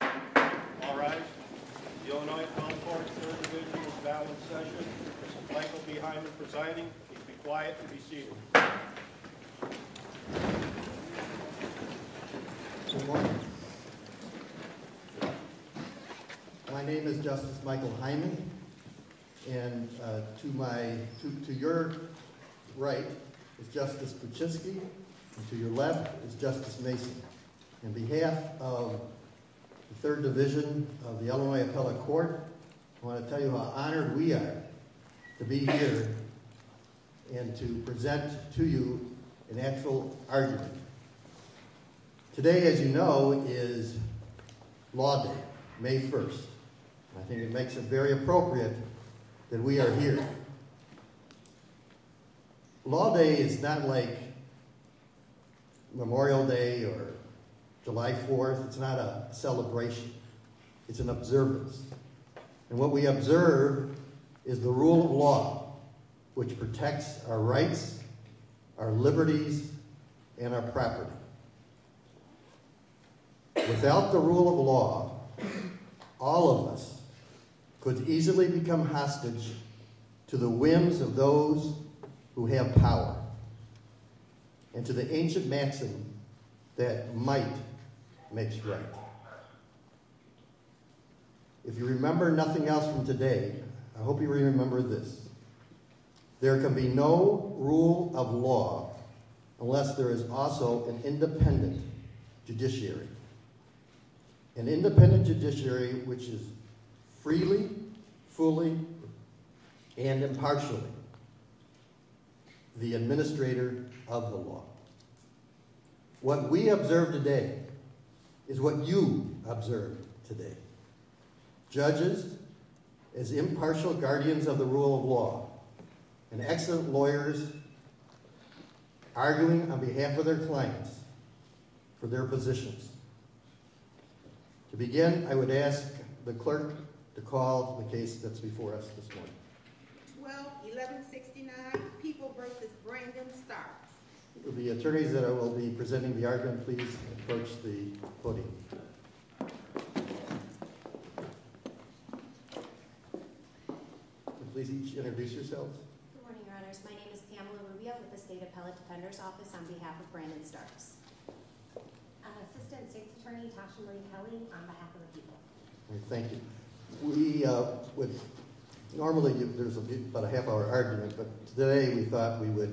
All rise. This is the Illinois Comfort Service Individuals' Balance Session. This is Michael B. Hyman presiding. Please be quiet and be seated. Good morning. My name is Justice Michael Hyman, and to your right is Justice Pachisky, and to your left is Justice Mason. On behalf of the 3rd Division of the Illinois Appellate Court, I want to tell you how honored we are to be here and to present to you an actual argument. Today, as you know, is Law Day, May 1st. I think it makes it very appropriate that we are here. Law Day is not like Memorial Day or July 4th. It's not a celebration. It's an observance. And what we observe is the rule of law, which protects our rights, our liberties, and our property. Without the rule of law, all of us could easily become hostage to the whims of those who have power and to the ancient maxim that might makes right. If you remember nothing else from today, I hope you remember this. There can be no rule of law unless there is also an independent judiciary. An independent judiciary which is freely, fully, and impartially the administrator of the law. What we observe today is what you observe today. Judges as impartial guardians of the rule of law, and excellent lawyers arguing on behalf of their clients for their positions. To begin, I would ask the clerk to call the case that's before us this morning. 12-1169, People v. Brandon-Starks. Will the attorneys that will be presenting the argument please approach the podium. Please each introduce yourselves. Good morning, Your Honors. My name is Pamela Rubio with the State Appellate Defender's Office on behalf of Brandon-Starks. Assistant State Attorney Tasha Marie Kelly on behalf of the People. Thank you. Normally there's about a half hour argument, but today we thought we would,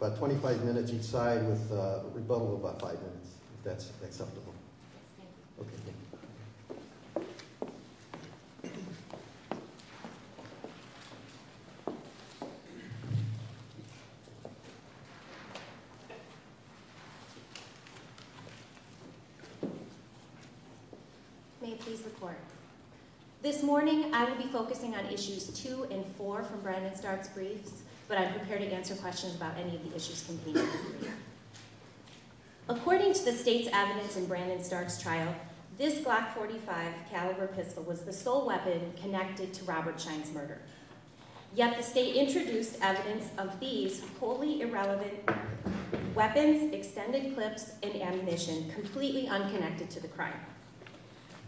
about 25 minutes each side with a rebuttal of about five minutes, if that's acceptable. May it please the court. This morning I will be focusing on issues two and four from Brandon-Starks' briefs, but I'm prepared to answer questions about any of the issues contained in the brief. According to the State's evidence in Brandon-Starks' trial, this Glock .45 caliber pistol was the sole weapon connected to Robert Schein's murder. Yet the State introduced evidence of these wholly irrelevant weapons, extended clips, and ammunition completely unconnected to the crime.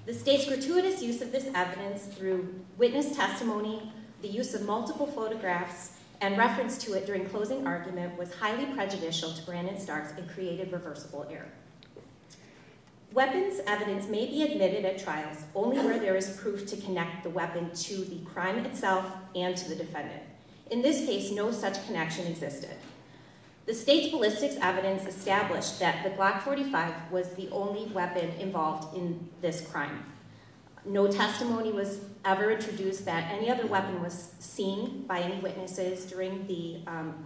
The State's gratuitous use of this evidence through witness testimony, the use of multiple photographs, and reference to it during closing argument was highly prejudicial to Brandon-Starks and created reversible error. Weapons evidence may be admitted at trials only where there is proof to connect the weapon to the crime itself and to the defendant. In this case, no such connection existed. The State's ballistics evidence established that the Glock .45 was the only weapon involved in this crime. No testimony was ever introduced that any other weapon was seen by any witnesses during the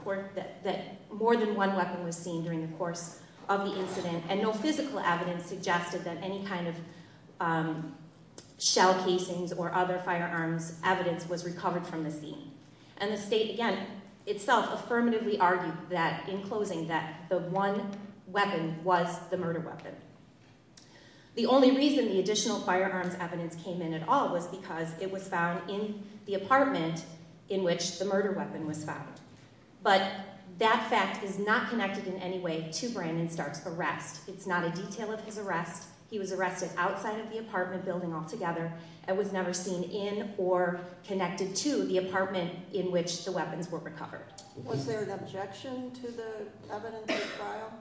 court, that more than one weapon was seen during the course of the incident, and no physical evidence suggested that any kind of shell casings or other firearms evidence was recovered from the scene. And the State, again, itself affirmatively argued that, in closing, that the one weapon was the murder weapon. The only reason the additional firearms evidence came in at all was because it was found in the apartment in which the murder weapon was found. But that fact is not connected in any way to Brandon-Starks' arrest. It's not a detail of his arrest. He was arrested outside of the apartment building altogether and was never seen in or connected to the apartment in which the weapons were recovered. Was there an objection to the evidence at trial?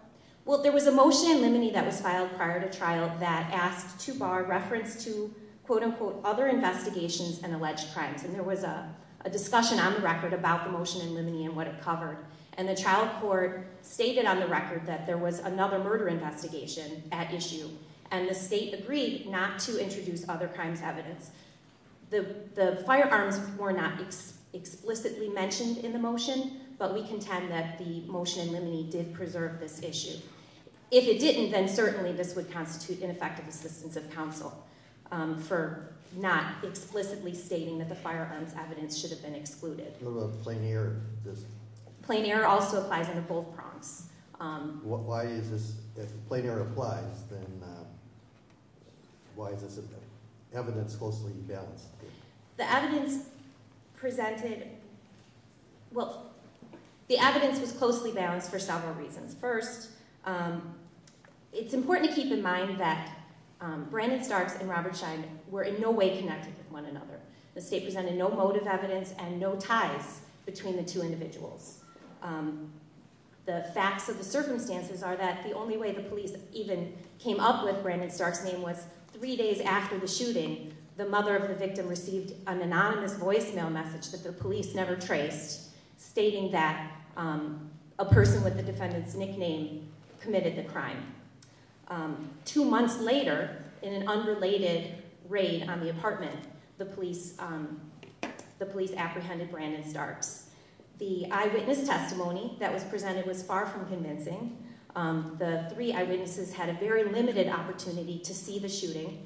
Well, there was a motion in Limine that was filed prior to trial that asked to bar reference to, quote-unquote, other investigations and alleged crimes. And there was a discussion on the record about the motion in Limine and what it covered. And the trial court stated on the record that there was another murder investigation at issue, and the State agreed not to introduce other crimes evidence. The firearms were not explicitly mentioned in the motion, but we contend that the motion in Limine did preserve this issue. If it didn't, then certainly this would constitute ineffective assistance of counsel for not explicitly stating that the firearms evidence should have been excluded. What about the plain error? Plain error also applies under both prompts. Why is this – if plain error applies, then why is this evidence closely balanced? The evidence presented – well, the evidence was closely balanced for several reasons. First, it's important to keep in mind that Brandon-Starks and Robert Schein were in no way connected with one another. The State presented no motive evidence and no ties between the two individuals. The facts of the circumstances are that the only way the police even came up with Brandon-Starks' name was three days after the shooting, the mother of the victim received an anonymous voicemail message that the police never traced, stating that a person with the defendant's nickname committed the crime. Two months later, in an unrelated raid on the apartment, the police apprehended Brandon-Starks. The eyewitness testimony that was presented was far from convincing. The three eyewitnesses had a very limited opportunity to see the shooting.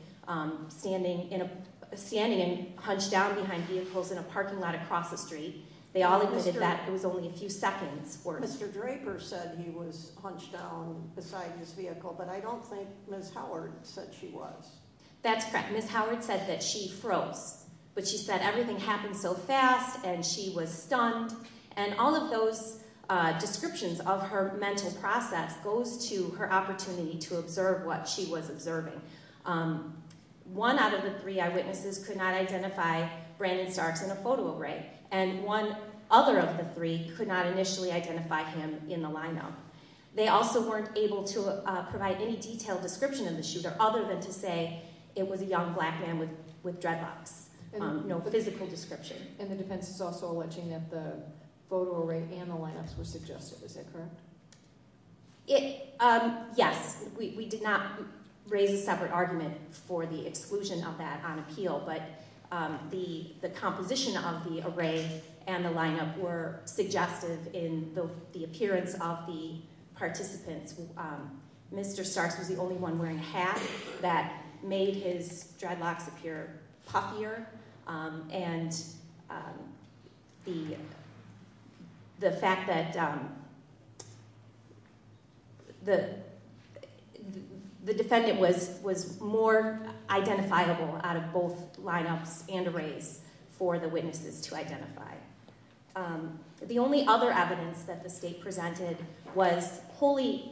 Standing and hunched down behind vehicles in a parking lot across the street, they all admitted that it was only a few seconds worth. Mr. Draper said he was hunched down beside his vehicle, but I don't think Ms. Howard said she was. That's correct. Ms. Howard said that she froze. But she said everything happened so fast and she was stunned, and all of those descriptions of her mental process goes to her opportunity to observe what she was observing. One out of the three eyewitnesses could not identify Brandon-Starks in a photo array, and one other of the three could not initially identify him in the lineup. They also weren't able to provide any detailed description of the shooter, other than to say it was a young black man with dreadlocks. No physical description. And the defense is also alleging that the photo array and the lineups were suggested. Is that correct? Yes. We did not raise a separate argument for the exclusion of that on appeal, but the composition of the array and the lineup were suggested in the appearance of the participants. Mr. Starks was the only one wearing a hat that made his dreadlocks appear puffier, and the fact that the defendant was more identifiable out of both lineups and arrays for the witnesses to identify. The only other evidence that the state presented was wholly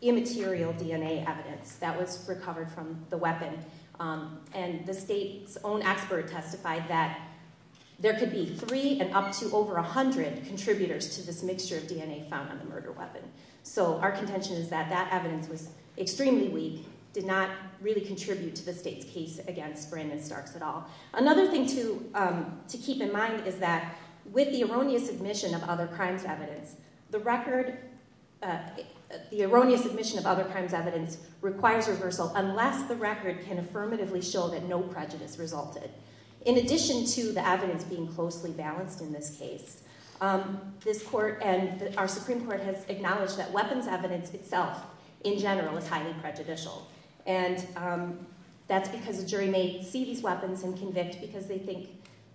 immaterial DNA evidence that was recovered from the weapon, and the state's own expert testified that there could be three and up to over 100 contributors to this mixture of DNA found on the murder weapon. So our contention is that that evidence was extremely weak, did not really contribute to the state's case against Brandon-Starks at all. Another thing to keep in mind is that with the erroneous admission of other crimes evidence, the record, the erroneous admission of other crimes evidence requires reversal unless the record can affirmatively show that no prejudice resulted. In addition to the evidence being closely balanced in this case, this court and our Supreme Court has acknowledged that weapons evidence itself in general is highly prejudicial, and that's because a jury may see these weapons and convict because they think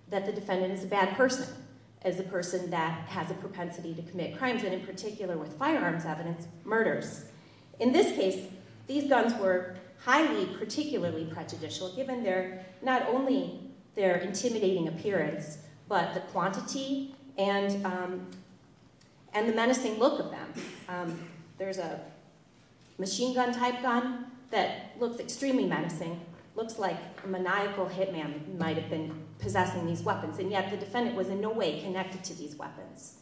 that the defendant is a bad person, as a person that has a propensity to commit crimes, and in particular with firearms evidence, murders. In this case, these guns were highly particularly prejudicial given not only their intimidating appearance, but the quantity and the menacing look of them. There's a machine gun type gun that looks extremely menacing, looks like a maniacal hit man might have been possessing these weapons, and yet the defendant was in no way connected to these weapons.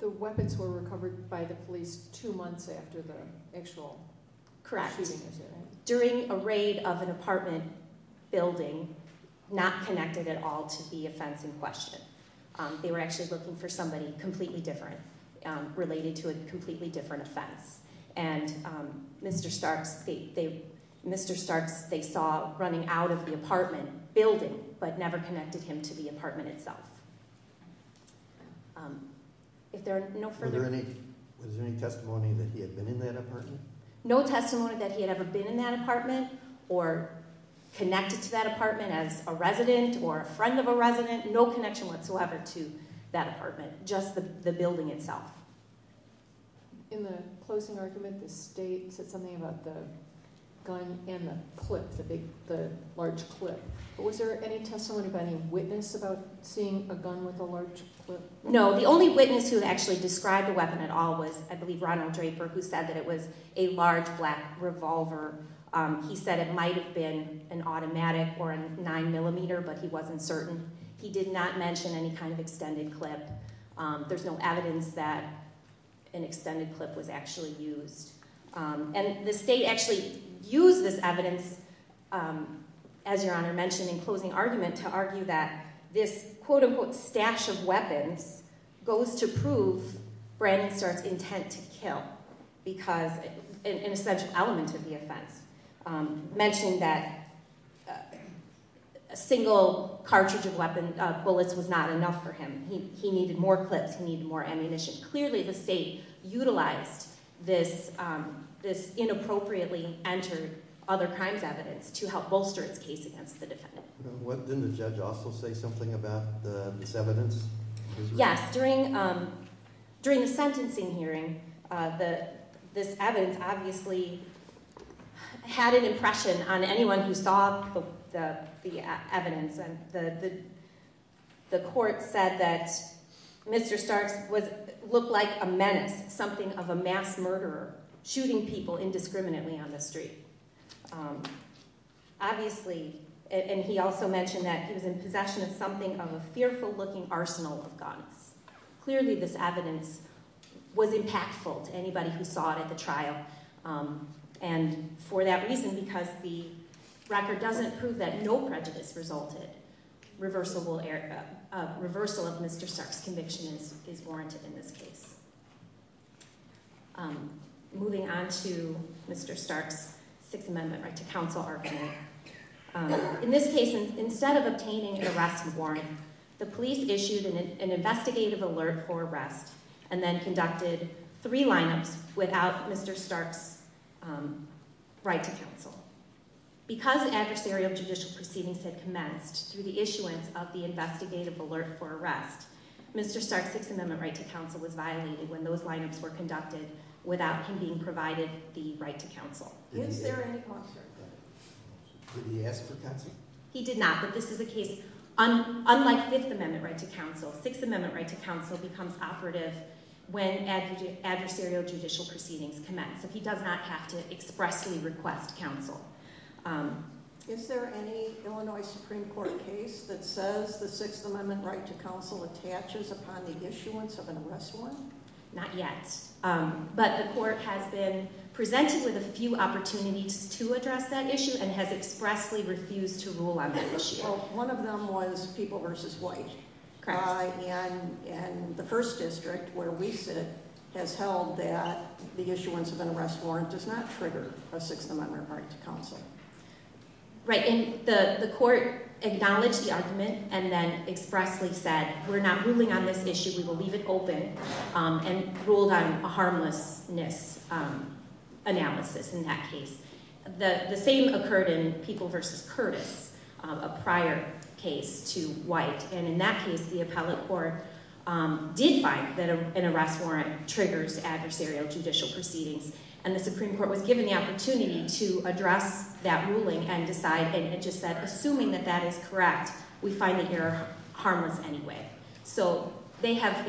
The weapons were recovered by the police two months after the actual shooting? Correct. During a raid of an apartment building, not connected at all to the offense in question. They were actually looking for somebody completely different, related to a completely different offense. And Mr. Starks, they saw running out of the apartment building, but never connected him to the apartment itself. Was there any testimony that he had been in that apartment? No testimony that he had ever been in that apartment or connected to that apartment as a resident or a friend of a resident. No connection whatsoever to that apartment, just the building itself. In the closing argument, the state said something about the gun and the clip, the large clip. Was there any testimony of any witness about seeing a gun with a large clip? No, the only witness who actually described the weapon at all was, I believe, Ronald Draper, who said that it was a large black revolver. He said it might have been an automatic or a 9mm, but he wasn't certain. He did not mention any kind of extended clip. There's no evidence that an extended clip was actually used. And the state actually used this evidence, as Your Honor mentioned in closing argument, to argue that this quote-unquote stash of weapons goes to prove Brandon Starks' intent to kill, because an essential element of the offense. Mentioning that a single cartridge of bullets was not enough for him. He needed more clips, he needed more ammunition. Clearly the state utilized this inappropriately entered other crimes evidence to help bolster its case against the defendant. Didn't the judge also say something about this evidence? Yes, during the sentencing hearing, this evidence obviously had an impression on anyone who saw the evidence. The court said that Mr. Starks looked like a menace, something of a mass murderer, shooting people indiscriminately on the street. Obviously, and he also mentioned that he was in possession of something of a fearful looking arsenal of guns. Clearly this evidence was impactful to anybody who saw it at the trial. And for that reason, because the record doesn't prove that no prejudice resulted, reversal of Mr. Starks' conviction is warranted in this case. Moving on to Mr. Starks' Sixth Amendment right to counsel argument. In this case, instead of obtaining an arrest warrant, the police issued an investigative alert for arrest, and then conducted three lineups without Mr. Starks' right to counsel. Because adversarial judicial proceedings had commenced through the issuance of the investigative alert for arrest, Mr. Starks' Sixth Amendment right to counsel was violated when those lineups were conducted without him being provided the right to counsel. Did he ask for counsel? He did not, but this is a case, unlike Fifth Amendment right to counsel, Sixth Amendment right to counsel becomes operative when adversarial judicial proceedings commence, so he does not have to expressly request counsel. Is there any Illinois Supreme Court case that says the Sixth Amendment right to counsel attaches upon the issuance of an arrest warrant? Not yet, but the court has been presented with a few opportunities to address that issue, and has expressly refused to rule on that issue. Well, one of them was People v. White. Correct. And the First District, where we sit, has held that the issuance of an arrest warrant does not trigger a Sixth Amendment right to counsel. Right, and the court acknowledged the argument and then expressly said, we're not ruling on this issue, we will leave it open, and ruled on a harmlessness analysis in that case. The same occurred in People v. Curtis, a prior case to White, and in that case, the appellate court did find that an arrest warrant triggers adversarial judicial proceedings, and the Supreme Court was given the opportunity to address that ruling and decide, and it just said, assuming that that is correct, we find the error harmless anyway. So they have,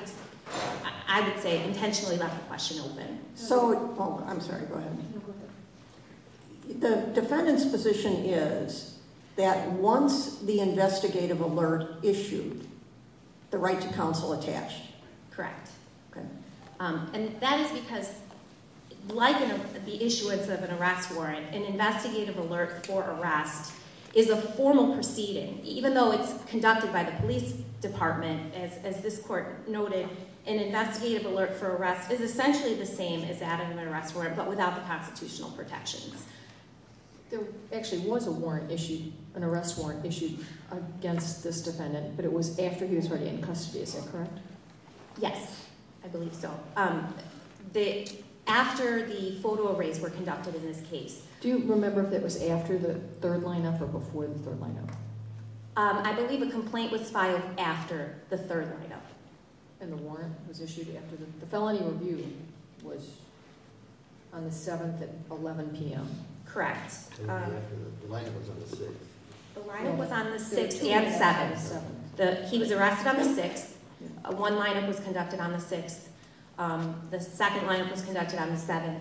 I would say, intentionally left the question open. I'm sorry, go ahead. No, go ahead. The defendant's position is that once the investigative alert issued, the right to counsel attached. Correct. Okay. And that is because, like the issuance of an arrest warrant, an investigative alert for arrest is a formal proceeding, even though it's conducted by the police department. As this court noted, an investigative alert for arrest is essentially the same as adding an arrest warrant, but without the constitutional protections. There actually was a warrant issued, an arrest warrant issued, against this defendant, but it was after he was already in custody, is that correct? Yes, I believe so. After the photo arrays were conducted in this case. Do you remember if that was after the third lineup or before the third lineup? I believe a complaint was filed after the third lineup. And the warrant was issued after the felony review was on the 7th at 11 p.m. Correct. The lineup was on the 6th. The lineup was on the 6th and 7th. He was arrested on the 6th. One lineup was conducted on the 6th. The second lineup was conducted on the 7th.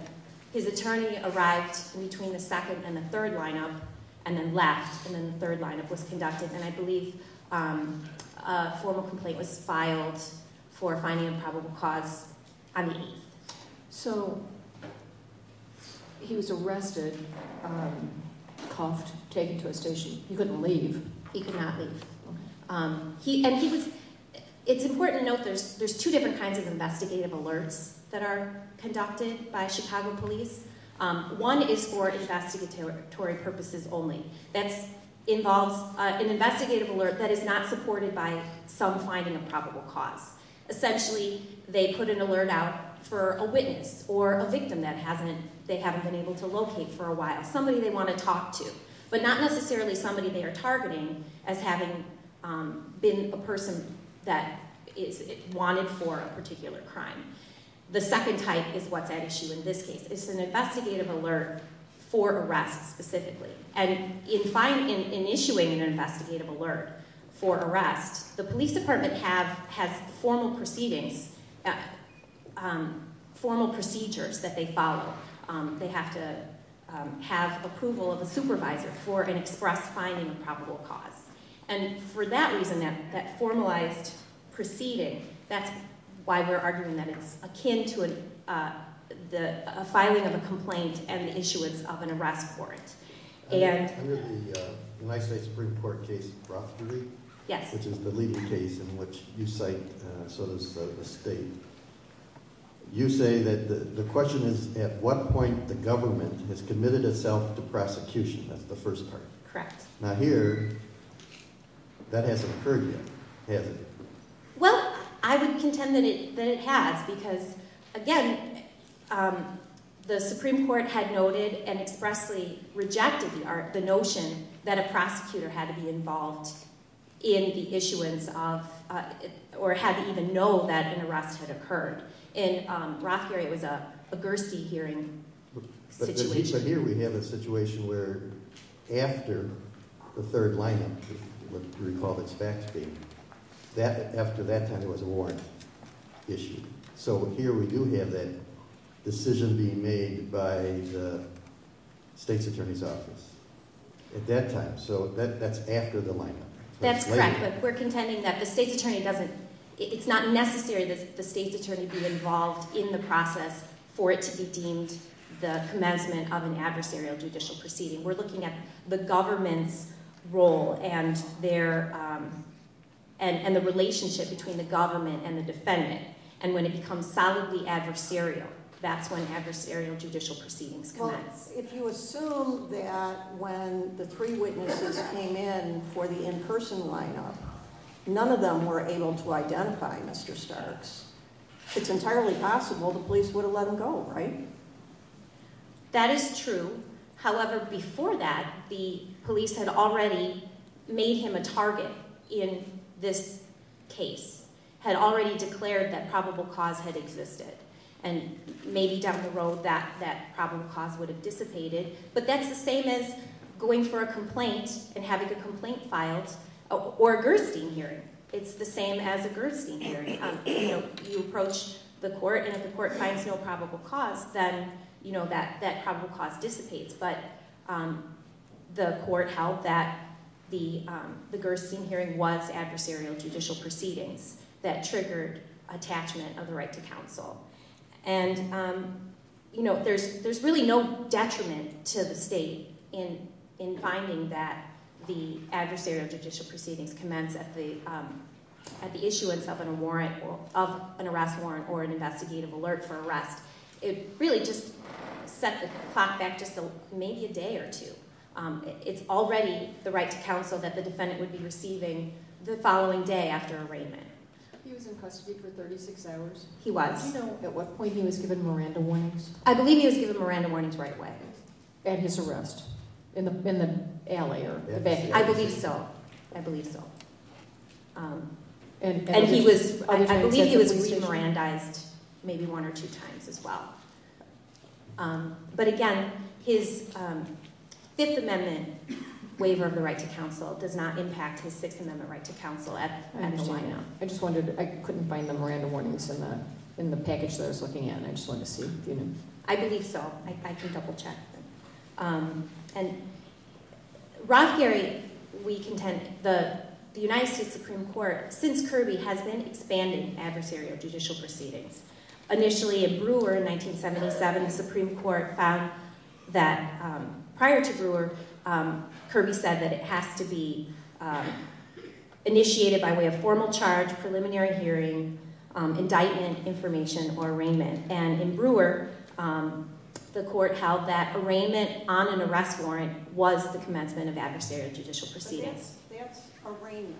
His attorney arrived between the second and the third lineup and then left, and then the third lineup was conducted. And I believe a formal complaint was filed for finding a probable cause. So he was arrested, cuffed, taken to a station. He couldn't leave. He could not leave. It's important to note there's two different kinds of investigative alerts that are conducted by Chicago police. One is for investigatory purposes only. That involves an investigative alert that is not supported by some finding of probable cause. Essentially, they put an alert out for a witness or a victim that they haven't been able to locate for a while, somebody they want to talk to, but not necessarily somebody they are targeting as having been a person that is wanted for a particular crime. The second type is what's at issue in this case. It's an investigative alert for arrest specifically. And in issuing an investigative alert for arrest, the police department has formal proceedings, formal procedures that they follow. They have to have approval of a supervisor for an express finding of probable cause. And for that reason, that formalized proceeding, that's why we're arguing that it's akin to a filing of a complaint and the issuance of an arrest warrant. I'm going to the United States Supreme Court case of Rothschild v. Lee. Yes. Which is the leading case in which you cite, so does the state. You say that the question is at what point the government has committed itself to prosecution. That's the first part. Correct. Now here, that hasn't occurred yet, has it? Well, I would contend that it has because, again, the Supreme Court had noted and expressly rejected the notion that a prosecutor had to be involved in the issuance of or had to even know that an arrest had occurred. In Rothschild v. Lee, it was a Gerstein hearing situation. But here we have a situation where after the third lineup, if you recall the facts being, after that time there was a warrant issue. So here we do have that decision being made by the state's attorney's office at that time. So that's after the lineup. That's correct. But we're contending that the state's attorney doesn't, it's not necessary that the state's attorney be involved in the process for it to be deemed the commencement of an adversarial judicial proceeding. We're looking at the government's role and their, and the relationship between the government and the defendant. And when it becomes solidly adversarial, that's when adversarial judicial proceedings commence. If you assume that when the three witnesses came in for the in-person lineup, none of them were able to identify Mr. Starks, it's entirely possible the police would have let him go, right? That is true. However, before that, the police had already made him a target in this case, had already declared that probable cause had existed, and maybe down the road that probable cause would have dissipated. But that's the same as going for a complaint and having a complaint filed or a Gerstein hearing. It's the same as a Gerstein hearing. You approach the court, and if the court finds no probable cause, then that probable cause dissipates. But the court held that the Gerstein hearing was adversarial judicial proceedings that triggered attachment of the right to counsel. And, you know, there's really no detriment to the state in finding that the adversarial judicial proceedings commence at the issuance of an arrest warrant or an investigative alert for arrest. It really just set the clock back just maybe a day or two. It's already the right to counsel that the defendant would be receiving the following day after arraignment. He was in custody for 36 hours? He was. Do you know at what point he was given Miranda warnings? I believe he was given Miranda warnings right away. At his arrest? In the alley? I believe so. I believe so. And he was, I believe he was re-Mirandaized maybe one or two times as well. But again, his Fifth Amendment waiver of the right to counsel does not impact his Sixth Amendment right to counsel at the line now. I just wondered, I couldn't find the Miranda warnings in the package that I was looking at, and I just wanted to see if you knew. I believe so. I can double-check. And Rothgerry, we contend, the United States Supreme Court, since Kirby, has been expanding adversarial judicial proceedings. Initially at Brewer in 1977, the Supreme Court found that prior to Brewer, Kirby said that it has to be initiated by way of formal charge, preliminary hearing, indictment information, or arraignment. And in Brewer, the court held that arraignment on an arrest warrant was the commencement of adversarial judicial proceedings. But that's arraignment.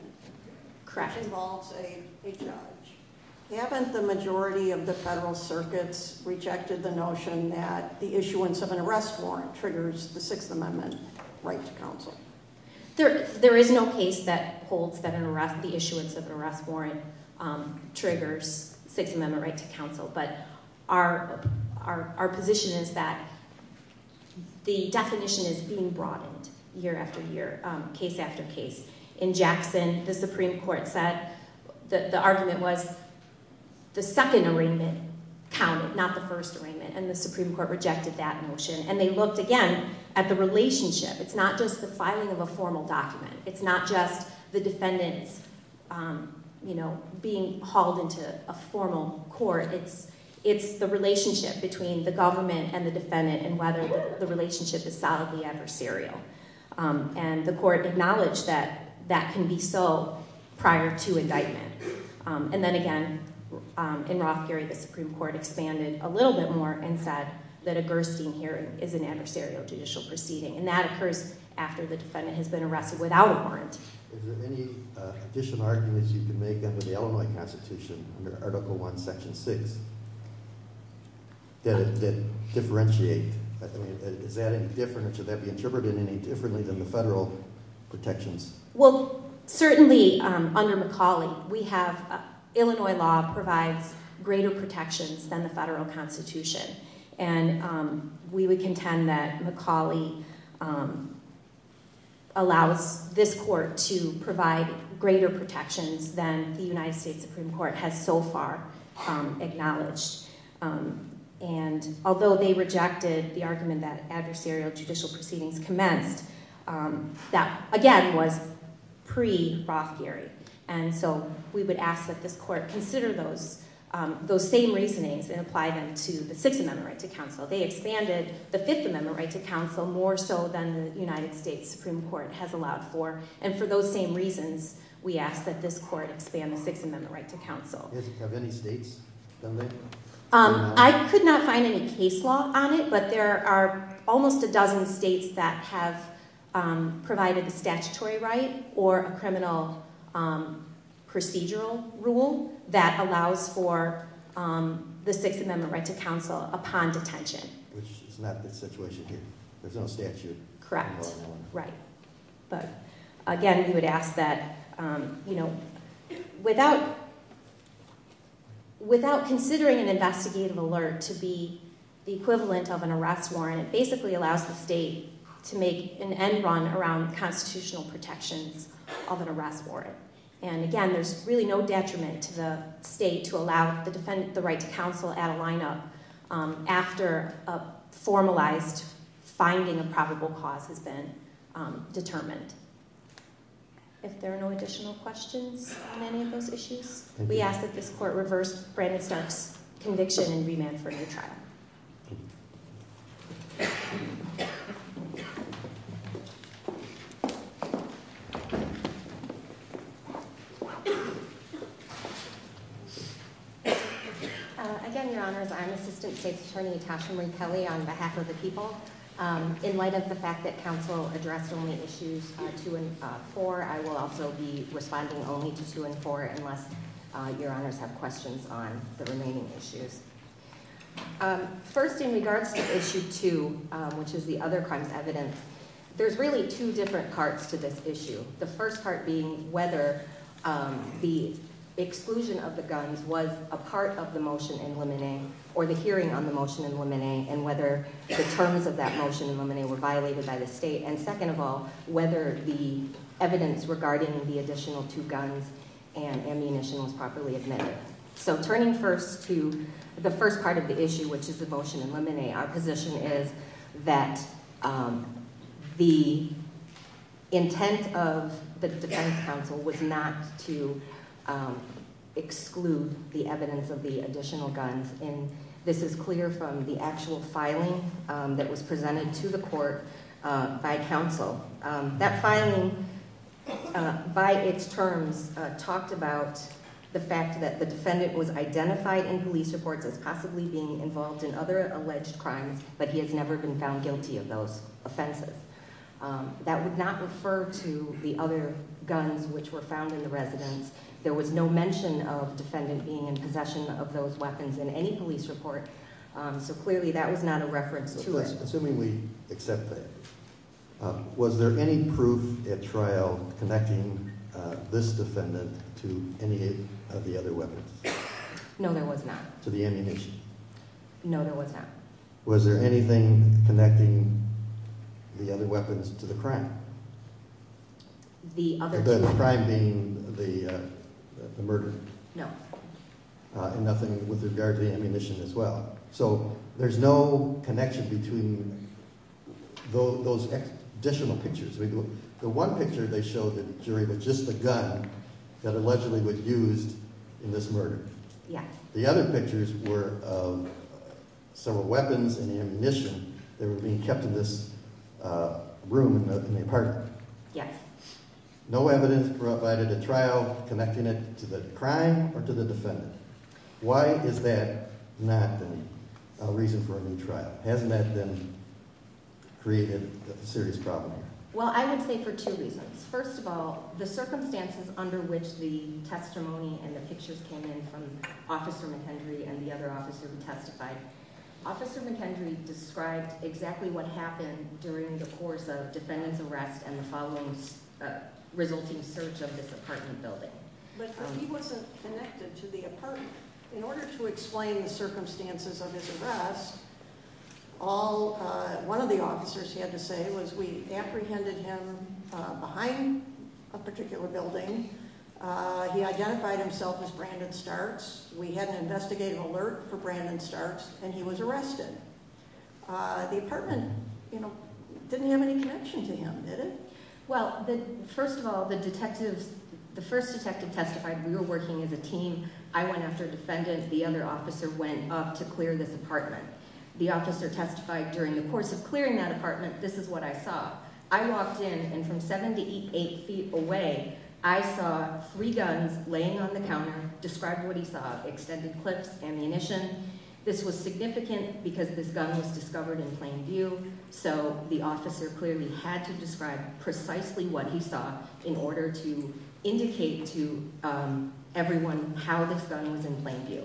Correct. Which involves a judge. Haven't the majority of the federal circuits rejected the notion that the issuance of an arrest warrant triggers the Sixth Amendment right to counsel? There is no case that holds that the issuance of an arrest warrant triggers Sixth Amendment right to counsel. But our position is that the definition is being broadened year after year, case after case. In Jackson, the Supreme Court said that the argument was the second arraignment counted, not the first arraignment. And the Supreme Court rejected that notion. And they looked again at the relationship. It's not just the filing of a formal document. It's not just the defendants being hauled into a formal court. It's the relationship between the government and the defendant and whether the relationship is solidly adversarial. And the court acknowledged that that can be so prior to indictment. And then again, in Roth Gary, the Supreme Court expanded a little bit more and said that a Gerstein hearing is an adversarial judicial proceeding. And that occurs after the defendant has been arrested without a warrant. Is there any additional arguments you can make under the Illinois Constitution, under Article I, Section 6, that differentiate? Is that any different or should that be interpreted any differently than the federal protections? Well, certainly under McCauley, Illinois law provides greater protections than the federal Constitution. And we would contend that McCauley allows this court to provide greater protections than the United States Supreme Court has so far acknowledged. And although they rejected the argument that adversarial judicial proceedings commenced, that again was pre-Roth Gary. And so we would ask that this court consider those same reasonings and apply them to the Sixth Amendment right to counsel. They expanded the Fifth Amendment right to counsel more so than the United States Supreme Court has allowed for. And for those same reasons, we ask that this court expand the Sixth Amendment right to counsel. Have any states done that? I could not find any case law on it, but there are almost a dozen states that have provided a statutory right or a criminal procedural rule that allows for the Sixth Amendment right to counsel upon detention. Which is not the situation here. There's no statute. Correct. Right. Again, we would ask that without considering an investigative alert to be the equivalent of an arrest warrant, it basically allows the state to make an end run around constitutional protections of an arrest warrant. And again, there's really no detriment to the state to allow the right to counsel at a lineup after a formalized finding of probable cause has been determined. If there are no additional questions on any of those issues, we ask that this court reverse Brandon Stark's conviction and remand for a new trial. Again, Your Honors, I'm Assistant State's Attorney Tasha Marie Kelly on behalf of the people. In light of the fact that counsel addressed only issues 2 and 4, I will also be responding only to 2 and 4 unless Your Honors have questions on the remaining issues. First, in regards to issue 2, which is the other crimes evidence, there's really 2 different parts to this issue. The first part being whether the exclusion of the guns was a part of the motion in Lemonet or the hearing on the motion in Lemonet and whether the terms of that motion in Lemonet were violated by the state. And second of all, whether the evidence regarding the additional 2 guns and ammunition was properly admitted. So turning first to the first part of the issue, which is the motion in Lemonet, our position is that the intent of the defense counsel was not to exclude the evidence of the additional guns. And this is clear from the actual filing that was presented to the court by counsel. That filing, by its terms, talked about the fact that the defendant was identified in police reports as possibly being involved in other alleged crimes, but he has never been found guilty of those offenses. That would not refer to the other guns which were found in the residence. There was no mention of defendant being in possession of those weapons in any police report, so clearly that was not a reference to it. Assuming we accept that, was there any proof at trial connecting this defendant to any of the other weapons? No, there was not. To the ammunition? No, there was not. Was there anything connecting the other weapons to the crime? The other- The crime being the murder? No. And nothing with regard to the ammunition as well? So there's no connection between those additional pictures. The one picture they showed the jury with just the gun that allegedly was used in this murder. Yes. The other pictures were of several weapons and ammunition that were being kept in this room in the apartment. Yes. No evidence provided at trial connecting it to the crime or to the defendant. Why is that not the reason for a new trial? Hasn't that then created a serious problem? Well, I would say for two reasons. First of all, the circumstances under which the testimony and the pictures came in from Officer McHenry and the other officers who testified, Officer McHenry described exactly what happened during the course of defendant's arrest and the following resulting search of this apartment building. But he wasn't connected to the apartment. In order to explain the circumstances of his arrest, one of the officers had to say was we apprehended him behind a particular building. He identified himself as Brandon Starks. We had an investigative alert for Brandon Starks, and he was arrested. The apartment, you know, didn't have any connection to him, did it? Well, first of all, the first detective testified we were working as a team. I went after a defendant. The other officer went up to clear this apartment. The officer testified during the course of clearing that apartment, this is what I saw. I walked in, and from seven to eight feet away, I saw three guns laying on the counter. Describe what he saw. Extended clips, ammunition. This was significant because this gun was discovered in plain view, so the officer clearly had to describe precisely what he saw in order to indicate to everyone how this gun was in plain view.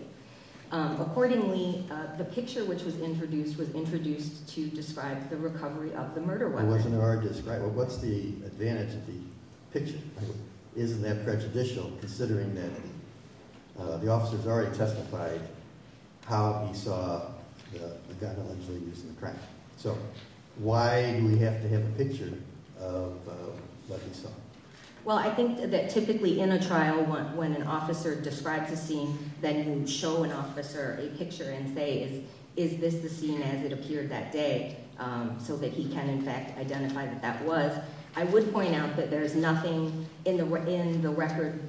Accordingly, the picture which was introduced was introduced to describe the recovery of the murder weapon. Well, what's the advantage of the picture? Isn't that prejudicial considering that the officers already testified how he saw the gun allegedly used in the crime? So why do we have to have a picture of what he saw? Well, I think that typically in a trial, when an officer describes a scene, then you show an officer a picture and say, is this the scene as it appeared that day, so that he can, in fact, identify what that was. I would point out that there is nothing in the record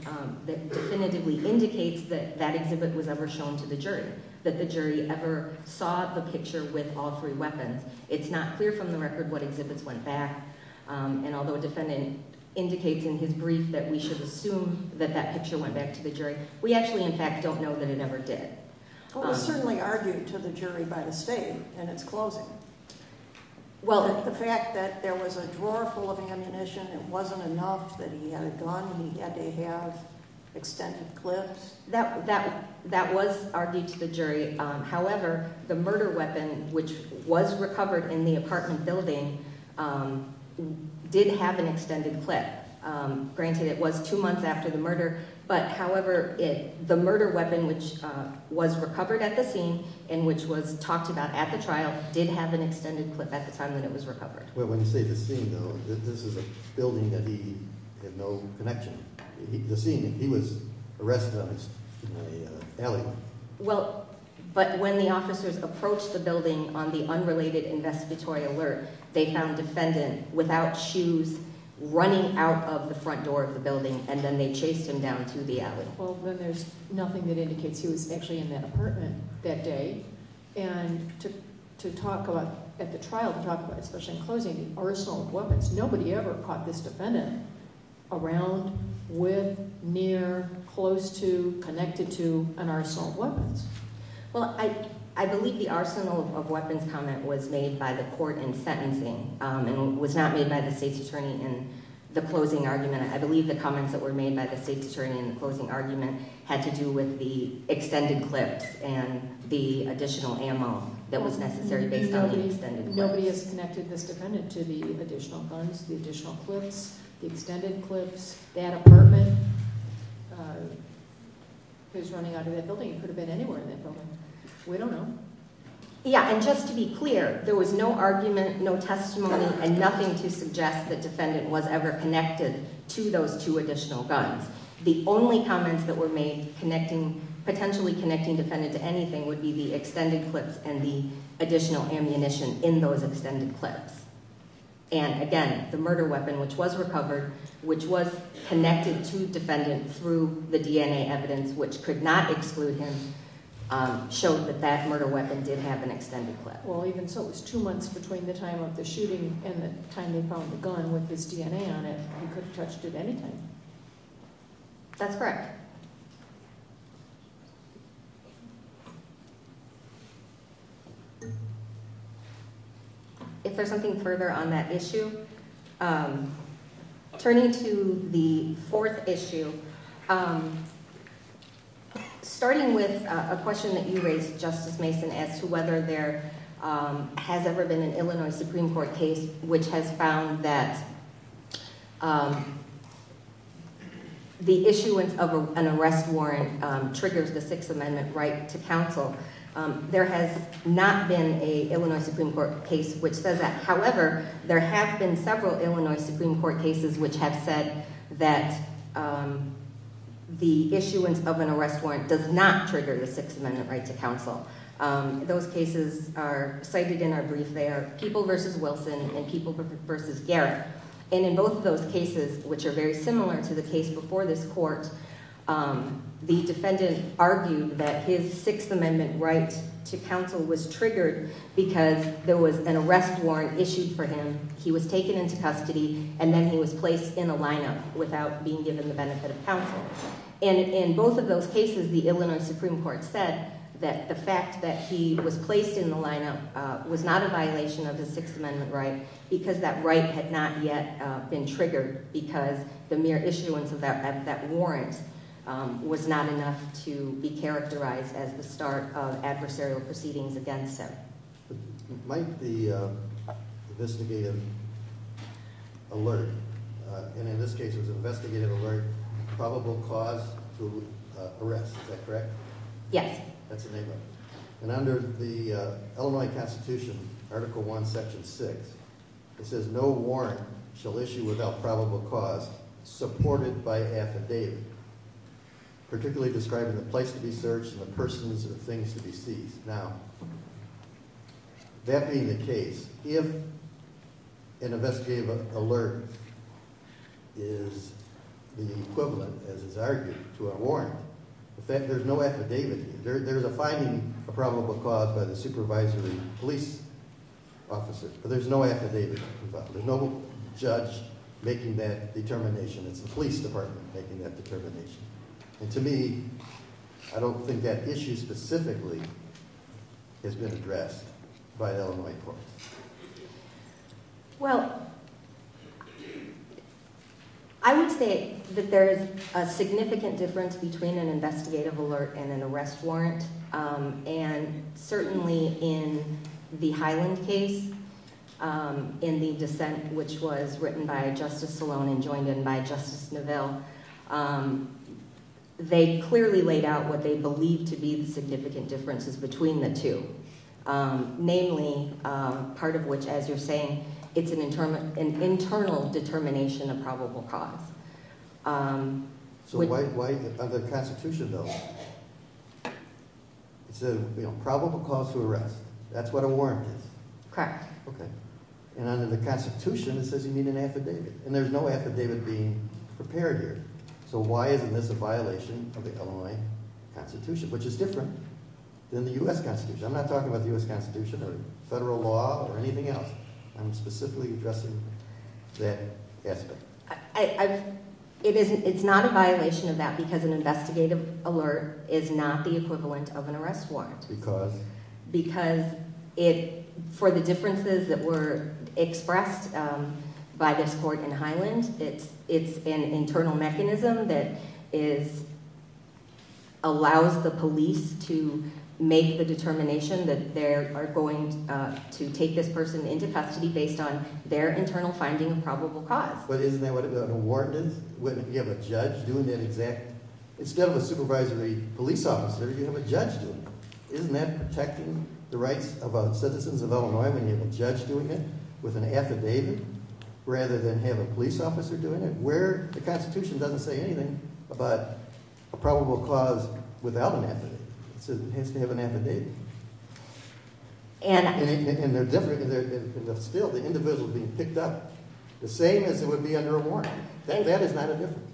that definitively indicates that that exhibit was ever shown to the jury, that the jury ever saw the picture with all three weapons. It's not clear from the record what exhibits went back. And although a defendant indicates in his brief that we should assume that that picture went back to the jury, we actually, in fact, don't know that it ever did. Well, it was certainly argued to the jury by the state in its closing. Well, the fact that there was a drawer full of ammunition, it wasn't enough that he had a gun, he had to have extended clips. That was argued to the jury. However, the murder weapon, which was recovered in the apartment building, did have an extended clip. Granted, it was two months after the murder, but however, the murder weapon, which was recovered at the scene and which was talked about at the trial, did have an extended clip at the time that it was recovered. Well, when you say the scene, though, this is a building that he had no connection. The scene, he was arrested in an alley. Well, but when the officers approached the building on the unrelated investigatory alert, they found a defendant without shoes running out of the front door of the building, and then they chased him down to the alley. Well, then there's nothing that indicates he was actually in that apartment that day. And to talk about, at the trial, to talk about, especially in closing, the arsenal of weapons, nobody ever caught this defendant around, with, near, close to, connected to an arsenal of weapons. Well, I believe the arsenal of weapons comment was made by the court in sentencing and was not made by the state's attorney in the closing argument. I believe the comments that were made by the state's attorney in the closing argument had to do with the extended clips and the additional ammo that was necessary based on the extended clips. Nobody has connected this defendant to the additional guns, the additional clips, the extended clips, that apartment. He was running out of that building. He could have been anywhere in that building. We don't know. Yeah, and just to be clear, there was no argument, no testimony, and nothing to suggest that defendant was ever connected to those two additional guns. The only comments that were made connecting, potentially connecting defendant to anything, would be the extended clips and the additional ammunition in those extended clips. And, again, the murder weapon, which was recovered, which was connected to defendant through the DNA evidence, which could not exclude him, showed that that murder weapon did have an extended clip. Well, even so, it was two months between the time of the shooting and the time they found the gun with his DNA on it. He could have touched it at any time. That's correct. If there's something further on that issue, turning to the fourth issue, starting with a question that you raised, Justice Mason, as to whether there has ever been an Illinois Supreme Court case which has found that the issuance of a warrant for a murder weapon, an arrest warrant, triggers the Sixth Amendment right to counsel. There has not been an Illinois Supreme Court case which says that. However, there have been several Illinois Supreme Court cases which have said that the issuance of an arrest warrant does not trigger the Sixth Amendment right to counsel. Those cases are cited in our brief. They are People v. Wilson and People v. Garrett. And in both of those cases, which are very similar to the case before this court, the defendant argued that his Sixth Amendment right to counsel was triggered because there was an arrest warrant issued for him. He was taken into custody, and then he was placed in a lineup without being given the benefit of counsel. And in both of those cases, the Illinois Supreme Court said that the fact that he was placed in the lineup was not a violation of the Sixth Amendment right because that right had not yet been triggered because the mere issuance of that warrant was not enough to be characterized as the start of adversarial proceedings against him. Might the investigative alert, and in this case it was investigative alert, probable cause to arrest, is that correct? Yes. That's the name of it. And under the Illinois Constitution, Article I, Section 6, it says no warrant shall issue without probable cause supported by affidavit, particularly describing the place to be searched and the persons or things to be seized. Now, that being the case, if an investigative alert is the equivalent, as is argued, to a warrant, there's no affidavit. There's a finding of probable cause by the supervisory police officer, but there's no affidavit. There's no judge making that determination. It's the police department making that determination. And to me, I don't think that issue specifically has been addressed by an Illinois court. Well, I would say that there is a significant difference between an investigative alert and an arrest warrant. And certainly in the Highland case, in the dissent which was written by Justice Salone and joined in by Justice Navelle, they clearly laid out what they believed to be the significant differences between the two. Namely, part of which, as you're saying, it's an internal determination of probable cause. So why, under the Constitution, though, it says probable cause to arrest. That's what a warrant is. Correct. Okay. And under the Constitution, it says you need an affidavit. And there's no affidavit being prepared here. So why isn't this a violation of the Illinois Constitution, which is different than the U.S. Constitution? I'm not talking about the U.S. Constitution or federal law or anything else. I'm specifically addressing that aspect. It's not a violation of that because an investigative alert is not the equivalent of an arrest warrant. Because? Because for the differences that were expressed by this court in Highland, it's an internal mechanism that allows the police to make the determination that they are going to take this person into custody based on their internal finding of probable cause. But isn't that what a warrant is? You have a judge doing that exact – instead of a supervisory police officer, you have a judge doing it. Isn't that protecting the rights of citizens of Illinois when you have a judge doing it with an affidavit rather than have a police officer doing it? Where the Constitution doesn't say anything about a probable cause without an affidavit. It says it has to have an affidavit. And they're different and still the individual is being picked up the same as it would be under a warrant. That is not a difference.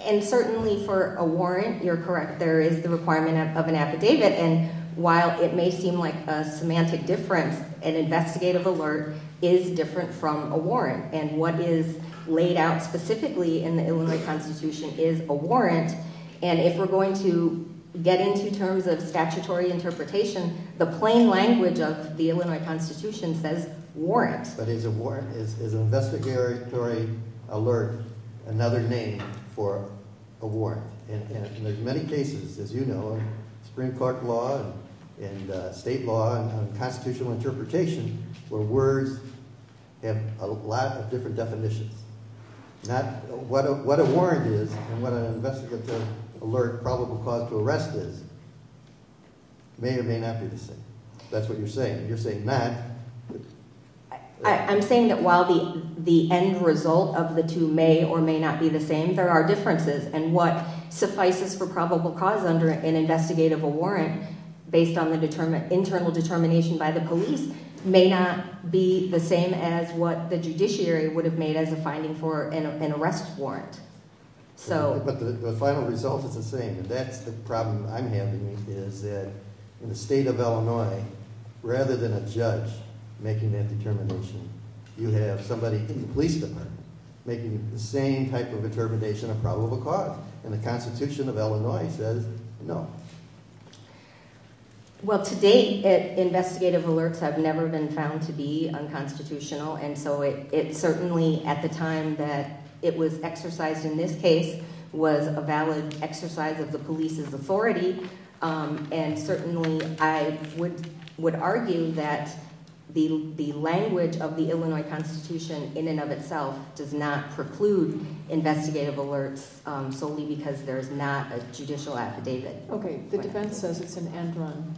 And certainly for a warrant, you're correct, there is the requirement of an affidavit, and while it may seem like a semantic difference, an investigative alert is different from a warrant. And what is laid out specifically in the Illinois Constitution is a warrant, and if we're going to get into terms of statutory interpretation, the plain language of the Illinois Constitution says warrant. But is a warrant – is an investigatory alert another name for a warrant? And there's many cases, as you know, of Supreme Court law and state law and constitutional interpretation where words have a lot of different definitions. What a warrant is and what an investigative alert probable cause to arrest is may or may not be the same. That's what you're saying. You're saying that – I'm saying that while the end result of the two may or may not be the same, there are differences, and what suffices for probable cause under an investigative warrant based on the internal determination by the police may not be the same as what the judiciary would have made as a finding for an arrest warrant. But the final result is the same, and that's the problem I'm having is that in the state of Illinois, rather than a judge making that determination, you have somebody in the police department making the same type of determination of probable cause, and the Constitution of Illinois says no. Well, to date, investigative alerts have never been found to be unconstitutional, and so it certainly, at the time that it was exercised in this case, was a valid exercise of the police's authority, and certainly I would argue that the language of the Illinois Constitution in and of itself does not preclude investigative alerts solely because there is not a judicial affidavit. Okay. The defense says it's an end run.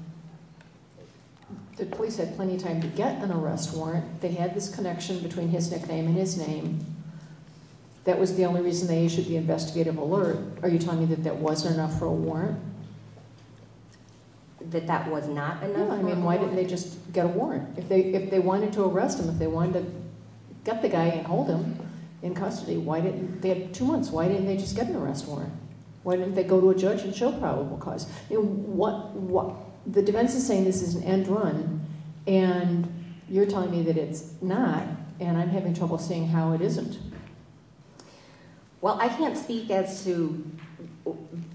The police had plenty of time to get an arrest warrant. They had this connection between his nickname and his name. That was the only reason they issued the investigative alert. Are you telling me that that wasn't enough for a warrant? That that was not enough for a warrant? No. I mean, why didn't they just get a warrant? If they wanted to arrest him, if they wanted to get the guy and hold him in custody, they had two months. Why didn't they just get an arrest warrant? Why didn't they go to a judge and show probable cause? The defense is saying this is an end run, and you're telling me that it's not, and I'm having trouble seeing how it isn't. Well, I can't speak as to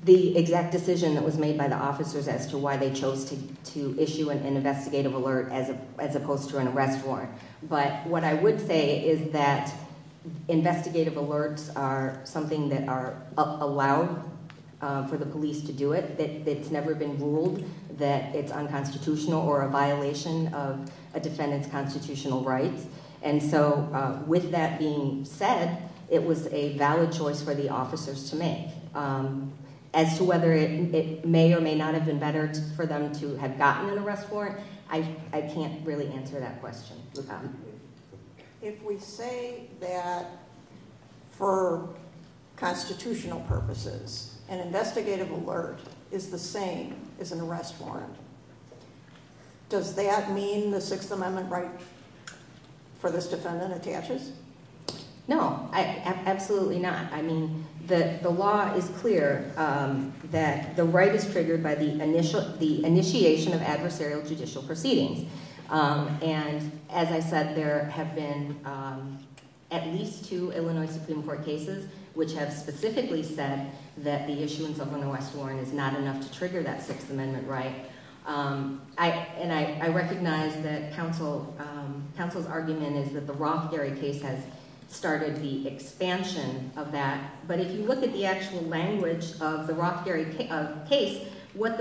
the exact decision that was made by the officers as to why they chose to issue an investigative alert as opposed to an arrest warrant, but what I would say is that investigative alerts are something that are allowed for the police to do it. It's never been ruled that it's unconstitutional or a violation of a defendant's constitutional rights, and so with that being said, it was a valid choice for the officers to make. As to whether it may or may not have been better for them to have gotten an arrest warrant, I can't really answer that question. If we say that for constitutional purposes an investigative alert is the same as an arrest warrant, does that mean the Sixth Amendment right for this defendant attaches? No, absolutely not. I mean, the law is clear that the right is triggered by the initiation of adversarial judicial proceedings, and as I said, there have been at least two Illinois Supreme Court cases which have specifically said that the issuance of an arrest warrant is not enough to trigger that Sixth Amendment right. And I recognize that counsel's argument is that the Rothgary case has started the expansion of that, but if you look at the actual language of the Rothgary case, what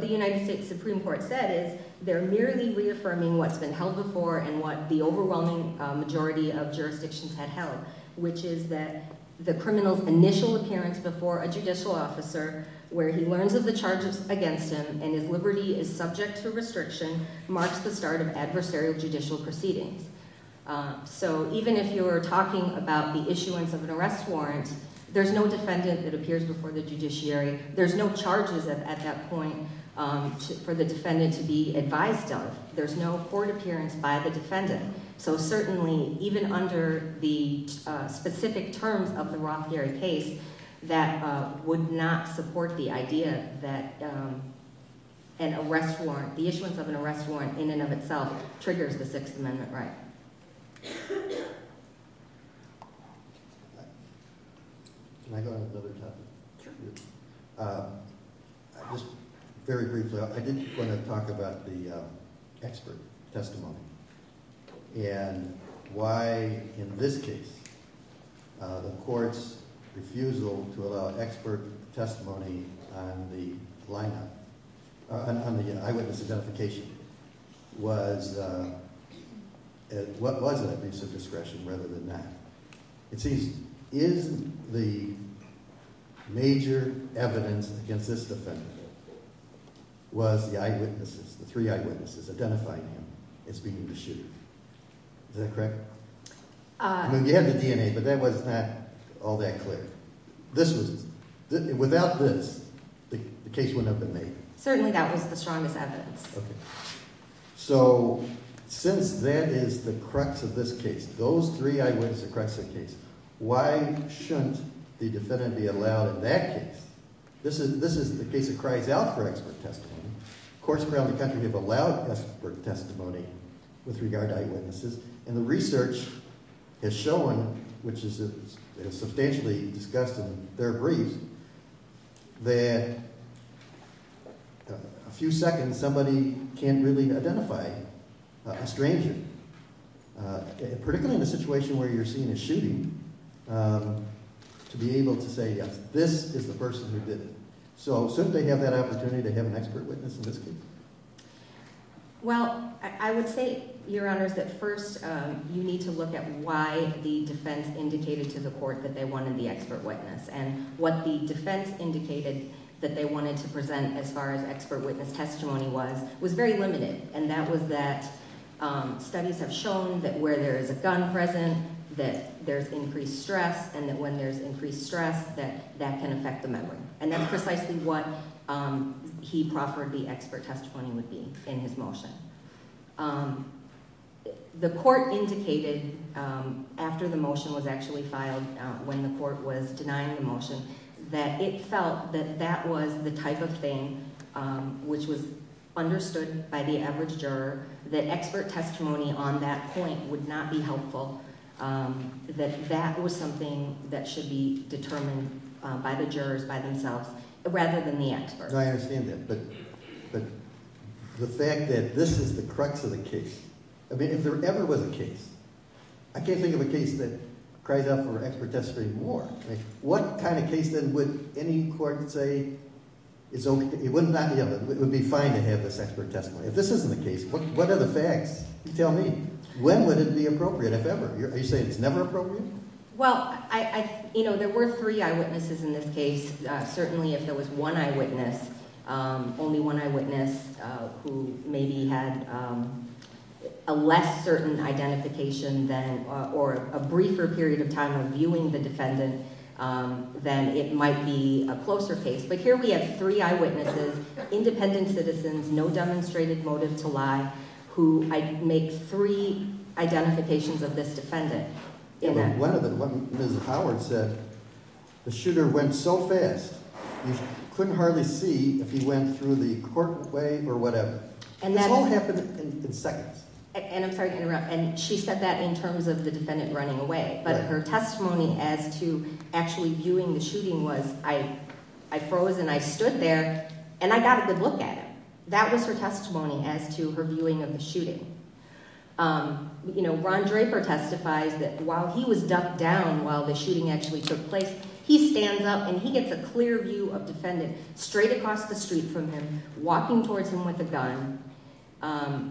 the United States Supreme Court said is they're merely reaffirming what's been held before and what the overwhelming majority of jurisdictions had held, which is that the criminal's initial appearance before a judicial officer where he learns of the charges against him and his liberty is subject to restriction marks the start of adversarial judicial proceedings. So even if you're talking about the issuance of an arrest warrant, there's no defendant that appears before the judiciary. There's no charges at that point for the defendant to be advised of. There's no court appearance by the defendant. So certainly, even under the specific terms of the Rothgary case, that would not support the idea that an arrest warrant, the issuance of an arrest warrant in and of itself triggers the Sixth Amendment right. Can I go on to another topic? Sure. It seems, is the major evidence against this defendant was the eyewitnesses, the three eyewitnesses identifying him as being the shooter. Is that correct? You have the DNA, but that was not all that clear. This was – without this, the case wouldn't have been made. Certainly, that was the strongest evidence. Okay. So since that is the crux of this case, those three eyewitnesses are the crux of the case, why shouldn't the defendant be allowed in that case? This is the case that cries out for expert testimony. Courts around the country have allowed expert testimony with regard to eyewitnesses, and the research has shown, which is substantially discussed in their briefs, that a few seconds somebody can't really identify a stranger. Particularly in a situation where you're seeing a shooting, to be able to say, yes, this is the person who did it. So shouldn't they have that opportunity to have an expert witness in this case? Well, I would say, Your Honors, that first you need to look at why the defense indicated to the court that they wanted the expert witness. And what the defense indicated that they wanted to present as far as expert witness testimony was, was very limited. And that was that studies have shown that where there is a gun present, that there's increased stress, and that when there's increased stress, that that can affect the memory. And that's precisely what he proffered the expert testimony would be in his motion. The court indicated after the motion was actually filed, when the court was denying the motion, that it felt that that was the type of thing which was understood by the average juror, that expert testimony on that point would not be helpful. That that was something that should be determined by the jurors, by themselves, rather than the experts. I understand that, but the fact that this is the crux of the case, I mean, if there ever was a case, I can't think of a case that cries out for expert testimony more. What kind of case then would any court say, it would be fine to have this expert testimony? If this isn't the case, what are the facts? Tell me, when would it be appropriate, if ever? Are you saying it's never appropriate? Well, there were three eyewitnesses in this case. Certainly, if there was one eyewitness, only one eyewitness who maybe had a less certain identification or a briefer period of time of viewing the defendant, then it might be a closer case. But here we have three eyewitnesses, independent citizens, no demonstrated motive to lie, who make three identifications of this defendant. Yeah, but one of them, what Ms. Howard said, the shooter went so fast, you couldn't hardly see if he went through the court way or whatever. This all happened in seconds. And I'm sorry to interrupt. And she said that in terms of the defendant running away. But her testimony as to actually viewing the shooting was, I froze and I stood there, and I got a good look at him. That was her testimony as to her viewing of the shooting. Ron Draper testifies that while he was ducked down while the shooting actually took place, he stands up and he gets a clear view of the defendant straight across the street from him, walking towards him with a gun.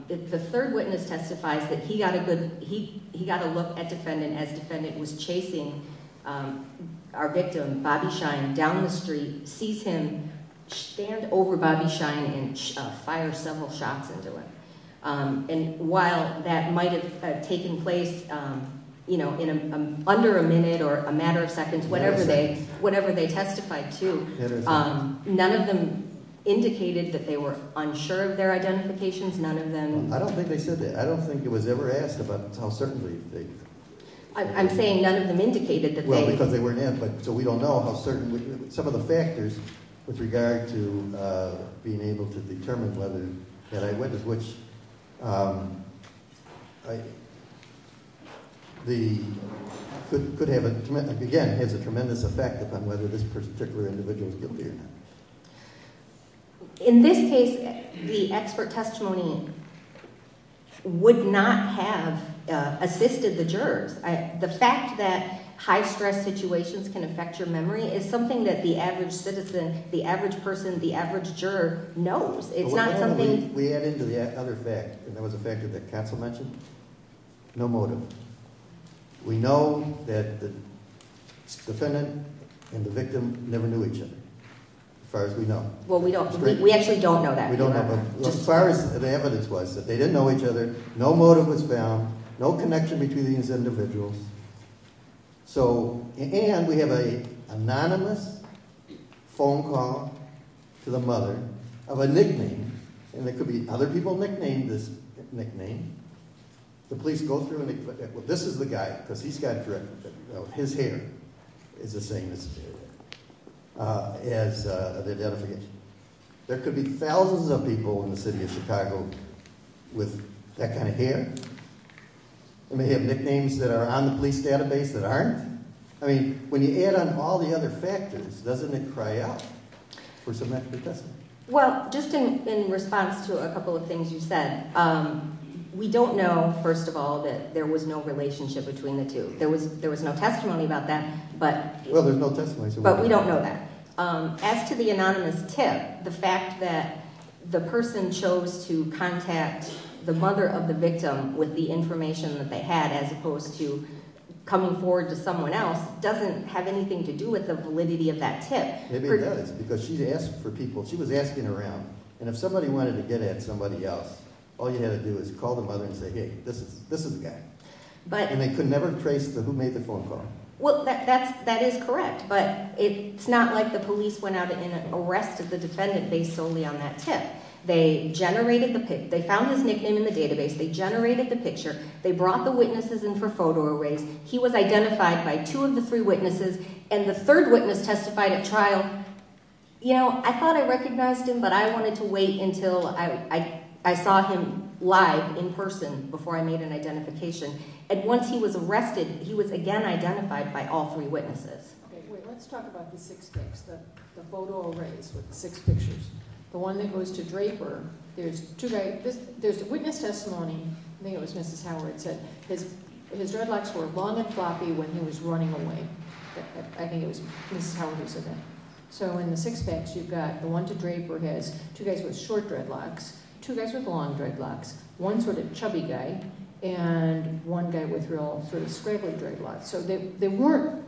The third witness testifies that he got a look at defendant as defendant was chasing our victim, Bobby Shine, down the street, sees him stand over Bobby Shine and fire several shots into him. And while that might have taken place in under a minute or a matter of seconds, whatever they testified to, none of them indicated that they were unsure of their identifications. None of them... I don't think they said that. I don't think it was ever asked about how certainly they... I'm saying none of them indicated that they... Again, it has a tremendous effect upon whether this particular individual is guilty or not. In this case, the expert testimony would not have assisted the jurors. The fact that high-stress situations can affect your memory is something that the average citizen, the average person, the average juror knows. It's not something... We add into the other fact, and that was a factor that counsel mentioned, no motive. We know that the defendant and the victim never knew each other, as far as we know. Well, we actually don't know that. We don't know, but as far as the evidence was that they didn't know each other, no motive was found, no connection between these individuals. So, and we have an anonymous phone call to the mother of a nickname, and there could be other people nicknamed this nickname. The police go through and they put... This is the guy, because he's got... His hair is the same as the identification. There could be thousands of people in the city of Chicago with that kind of hair. They may have nicknames that are on the police database that aren't. I mean, when you add on all the other factors, doesn't it cry out for some extra testimony? Well, just in response to a couple of things you said, we don't know, first of all, that there was no relationship between the two. There was no testimony about that, but we don't know that. As to the anonymous tip, the fact that the person chose to contact the mother of the victim with the information that they had, as opposed to coming forward to someone else, doesn't have anything to do with the validity of that tip. Maybe it does, because she was asking around, and if somebody wanted to get at somebody else, all you had to do is call the mother and say, hey, this is the guy. And they could never trace who made the phone call. Well, that is correct, but it's not like the police went out and arrested the defendant based solely on that tip. They found his nickname in the database. They generated the picture. They brought the witnesses in for photo arrays. He was identified by two of the three witnesses, and the third witness testified at trial. You know, I thought I recognized him, but I wanted to wait until I saw him live in person before I made an identification. And once he was arrested, he was again identified by all three witnesses. Okay, let's talk about the six picks, the photo arrays with the six pictures. The one that goes to Draper, there's two guys. There's a witness testimony. I think it was Mrs. Howard who said his dreadlocks were long and floppy when he was running away. I think it was Mrs. Howard who said that. So in the six picks, you've got the one to Draper, two guys with short dreadlocks, two guys with long dreadlocks, one sort of chubby guy, and one guy with real sort of scraggly dreadlocks. So they weren'tóthey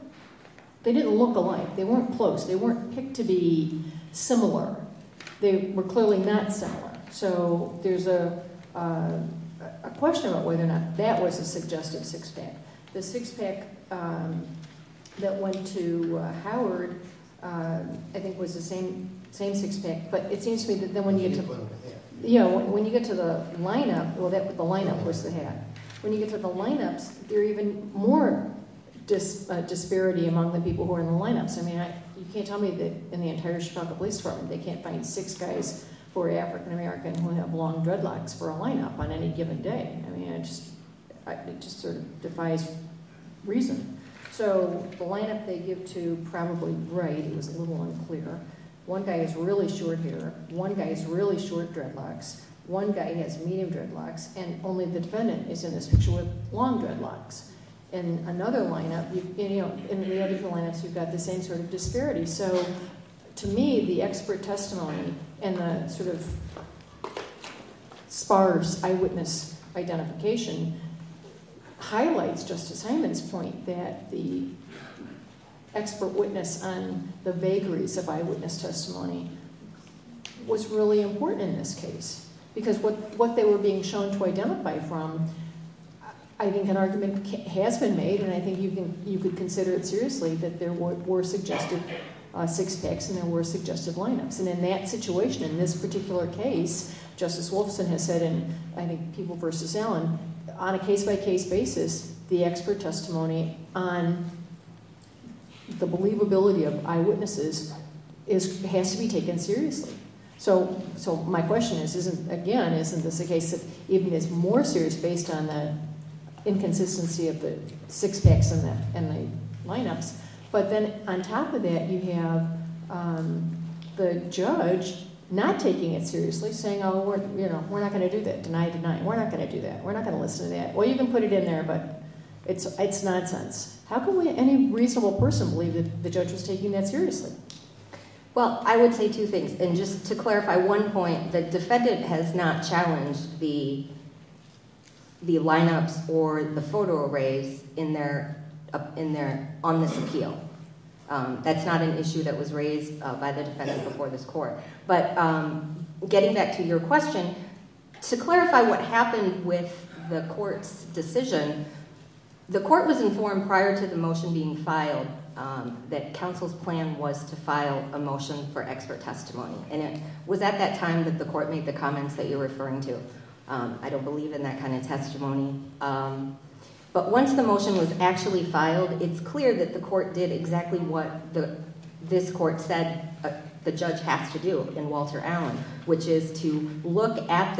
didn't look alike. They weren't close. They weren't picked to be similar. They were clearly not similar. So there's a question about whether or not that was a suggestive six pick. The six pick that went to Howard I think was the same six pick, but it seems to me that when you get toó the lineupówell, the lineup was the hat. When you get to the lineups, there's even more disparity among the people who are in the lineups. I mean, you can't tell me that in the entire Chicago Police Department they can't find six guys who are African-American who have long dreadlocks for a lineup on any given day. I mean, it just sort of defies reason. So the lineup they give to probably rightóit was a little unclearó one guy has really short hair, one guy has really short dreadlocks, one guy has medium dreadlocks, and only the defendant is in this picture with long dreadlocks. In another lineupóin the other four lineups, you've got the same sort of disparity. So to me, the expert testimony and the sort of sparse eyewitness identification highlights Justice Hyman's point that the expert witness on the vagaries of eyewitness testimony was really important in this case because what they were being shown to identify fromó I think an argument has been made, and I think you could consider it seriously, that there were suggested six-packs and there were suggested lineups. And in that situation, in this particular case, Justice Wolfson has saidó and I think people versus Allenóon a case-by-case basis, the expert testimony on the believability of eyewitnesses has to be taken seriously. So my question is, again, isn't this a case that is more serious based on the inconsistency of the six-packs and the lineups? But then on top of that, you have the judge not taking it seriously, saying, oh, we're not going to do that, deny, deny. We're not going to do that. We're not going to listen to that. Well, you can put it in there, but it's nonsense. How can any reasonable person believe that the judge was taking that seriously? Well, I would say two things. And just to clarify one point, the defendant has not challenged the lineups or the photo arrays on this appeal. That's not an issue that was raised by the defendant before this court. But getting back to your question, to clarify what happened with the court's decision, the court was informed prior to the motion being filed that counsel's plan was to file a motion for expert testimony. And it was at that time that the court made the comments that you're referring to. I don't believe in that kind of testimony. But once the motion was actually filed, it's clear that the court did exactly what this court said the judge has to do in Walter Allen, which is to look at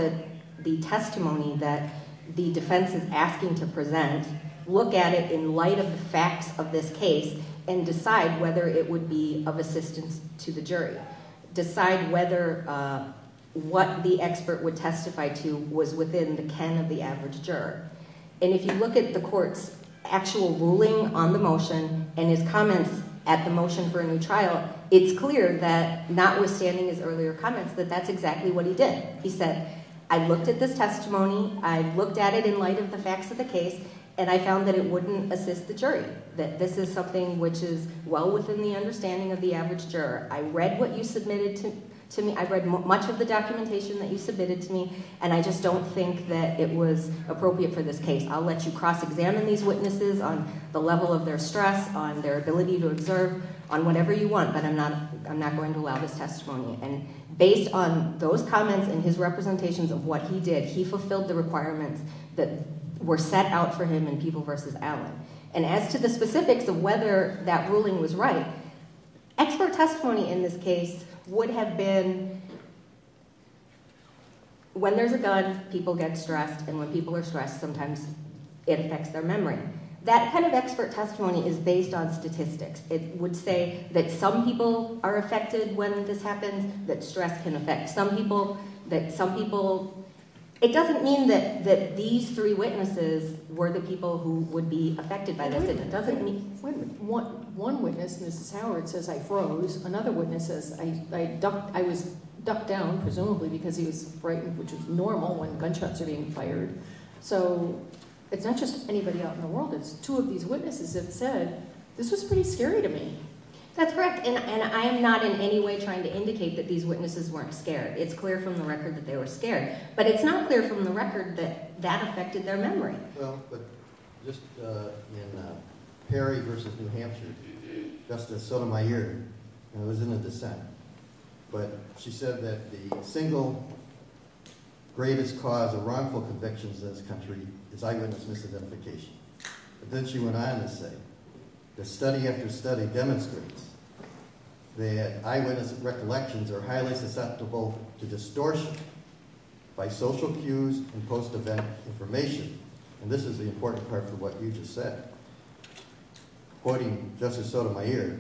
the testimony that the defense is asking to present, look at it in light of the facts of this case, and decide whether it would be of assistance to the jury, decide whether what the expert would testify to was within the ken of the average juror. And if you look at the court's actual ruling on the motion and his comments at the motion for a new trial, it's clear that notwithstanding his earlier comments that that's exactly what he did. He said, I looked at this testimony, I looked at it in light of the facts of the case, and I found that it wouldn't assist the jury, that this is something which is well within the understanding of the average juror. I read what you submitted to me, I read much of the documentation that you submitted to me, and I just don't think that it was appropriate for this case. I'll let you cross-examine these witnesses on the level of their stress, on their ability to observe, on whatever you want, but I'm not going to allow this testimony. And based on those comments and his representations of what he did, he fulfilled the requirements that were set out for him in People v. Allen. And as to the specifics of whether that ruling was right, expert testimony in this case would have been when there's a gun, people get stressed, and when people are stressed, sometimes it affects their memory. That kind of expert testimony is based on statistics. It would say that some people are affected when this happens, that stress can affect some people, that some people – it doesn't mean that these three witnesses were the people who would be affected by this. One witness, Mrs. Howard, says, I froze. Another witness says, I was ducked down, presumably, because he was frightened, which is normal when gunshots are being fired. So it's not just anybody out in the world. It's two of these witnesses that said, this was pretty scary to me. That's correct, and I am not in any way trying to indicate that these witnesses weren't scared. It's clear from the record that they were scared. But it's not clear from the record that that affected their memory. Well, but just in Perry v. New Hampshire, Justice Sotomayor – and I was in a dissent – but she said that the single greatest cause of wrongful convictions in this country is eyewitness misidentification. But then she went on to say, the study after study demonstrates that eyewitness recollections are highly susceptible to distortion by social cues and post-event information. And this is the important part to what you just said. Quoting Justice Sotomayor,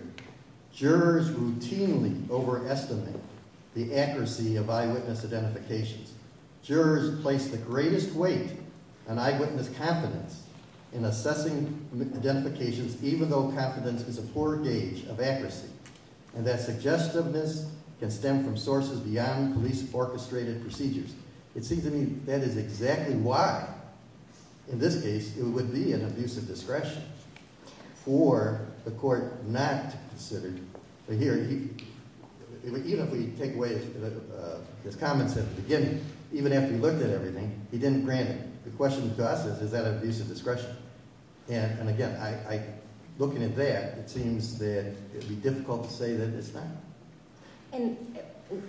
jurors routinely overestimate the accuracy of eyewitness identifications. Jurors place the greatest weight on eyewitness confidence in assessing identifications, even though confidence is a poor gauge of accuracy, and that suggestiveness can stem from sources beyond police-orchestrated procedures. It seems to me that is exactly why, in this case, it would be an abuse of discretion for the court not to consider. But here, even if we take away his comments at the beginning, even after he looked at everything, he didn't grant it. The question to us is, is that an abuse of discretion? And again, looking at that, it seems that it would be difficult to say that it's not. And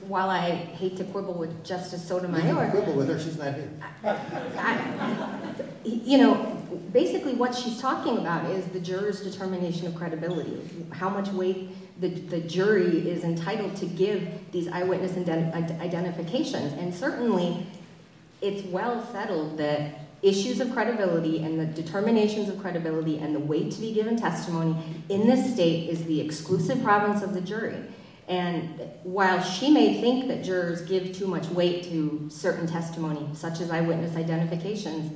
while I hate to quibble with Justice Sotomayor... You can quibble with her. She's not here. You know, basically what she's talking about is the jurors' determination of credibility, how much weight the jury is entitled to give these eyewitness identifications. And certainly, it's well settled that issues of credibility and the determinations of credibility and the weight to be given testimony in this state is the exclusive province of the jury. And while she may think that jurors give too much weight to certain testimony, such as eyewitness identifications,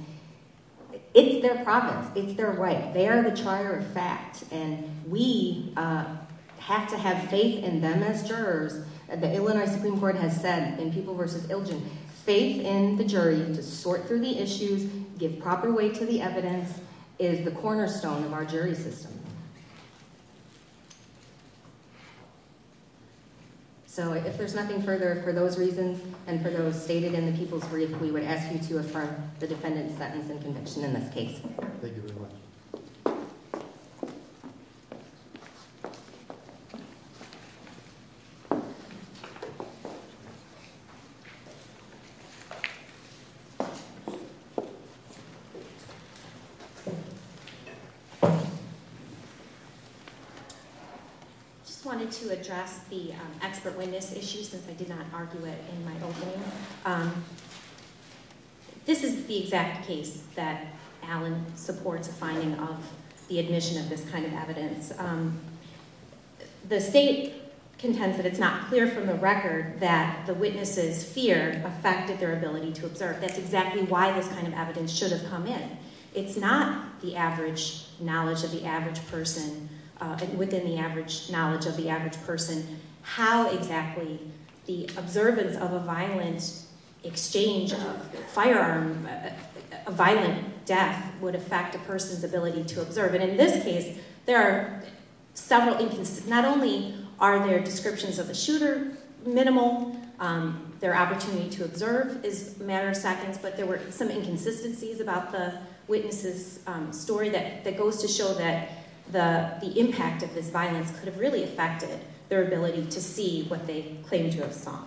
it's their province. It's their right. They are the charter of fact, and we have to have faith in them as jurors. The Illinois Supreme Court has said in People v. Ilgin, Faith in the jury to sort through the issues, give proper weight to the evidence, is the cornerstone of our jury system. So if there's nothing further, for those reasons and for those stated in the People's Brief, we would ask you to affirm the defendant's sentence and conviction in this case. Thank you very much. I just wanted to address the expert witness issue since I did not argue it in my opening. This is the exact case that Alan supports a finding of the admission of this kind of evidence. The state contends that it's not clear from the record that the witness's fear affected their ability to observe. That's exactly why this kind of evidence should have come in. It's not the average knowledge of the average person, within the average knowledge of the average person, how exactly the observance of a violent exchange of a firearm, a violent death, would affect a person's ability to observe. And in this case, there are several inconsistencies. Not only are their descriptions of the shooter minimal, their opportunity to observe is a matter of seconds, but there were some inconsistencies about the witness's story that goes to show that the impact of this violence could have really affected their ability to see what they claim to have saw.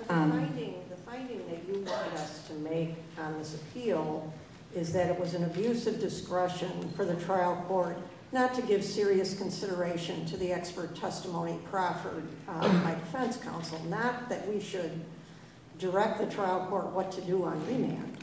The finding that you want us to make on this appeal is that it was an abuse of discretion for the trial court not to give serious consideration to the expert testimony proffered by defense counsel, not that we should direct the trial court what to do on remand.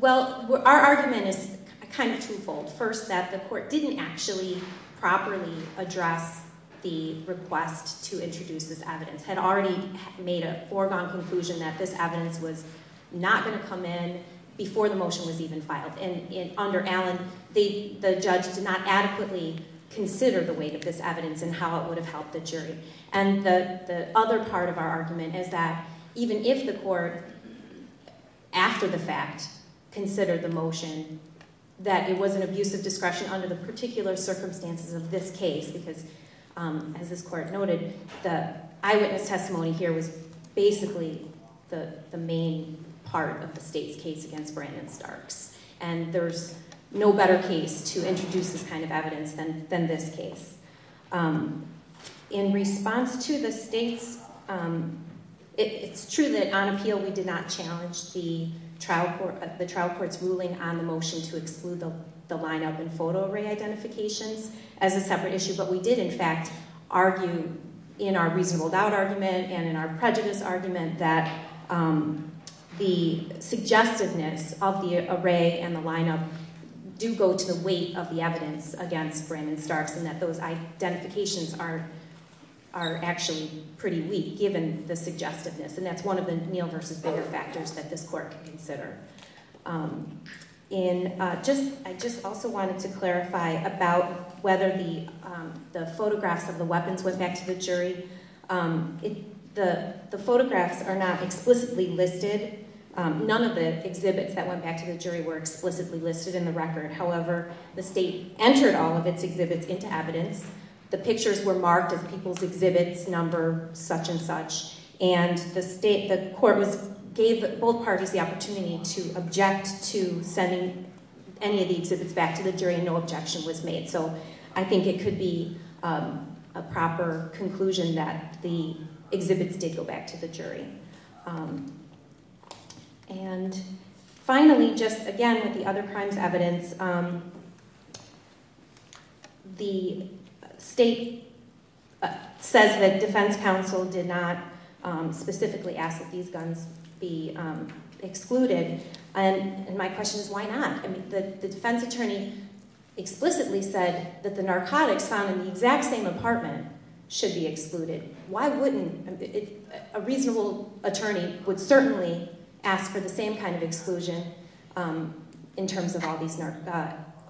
Well, our argument is kind of twofold. First, that the court didn't actually properly address the request to introduce this evidence, had already made a foregone conclusion that this evidence was not going to come in before the motion was even filed. And under Allen, the judge did not adequately consider the weight of this evidence and how it would have helped the jury. And the other part of our argument is that even if the court, after the fact, considered the motion that it was an abuse of discretion under the particular circumstances of this case, because as this court noted, the eyewitness testimony here was basically the main part of the state's case against Brandon Starks. And there's no better case to introduce this kind of evidence than this case. In response to the state's, it's true that on appeal we did not challenge the trial court's ruling on the motion to exclude the lineup and photo array identifications as a separate issue, but we did in fact argue in our reasonable doubt argument and in our prejudice argument that the suggestiveness of the array and the lineup do go to the weight of the evidence against Brandon Starks and that those identifications are actually pretty weak, given the suggestiveness. And that's one of the male versus female factors that this court could consider. And I just also wanted to clarify about whether the photographs of the weapons went back to the jury. The photographs are not explicitly listed. None of the exhibits that went back to the jury were explicitly listed in the record. However, the state entered all of its exhibits into evidence. The pictures were marked as people's exhibits, number, such and such. And the court gave both parties the opportunity to object to sending any of the exhibits back to the jury, and no objection was made. So I think it could be a proper conclusion that the exhibits did go back to the jury. And finally, just again with the other crimes evidence, the state says that defense counsel did not specifically ask that these guns be excluded. And my question is why not? The defense attorney explicitly said that the narcotics found in the exact same apartment should be excluded. Why wouldn't a reasonable attorney would certainly ask for the same kind of exclusion in terms of all these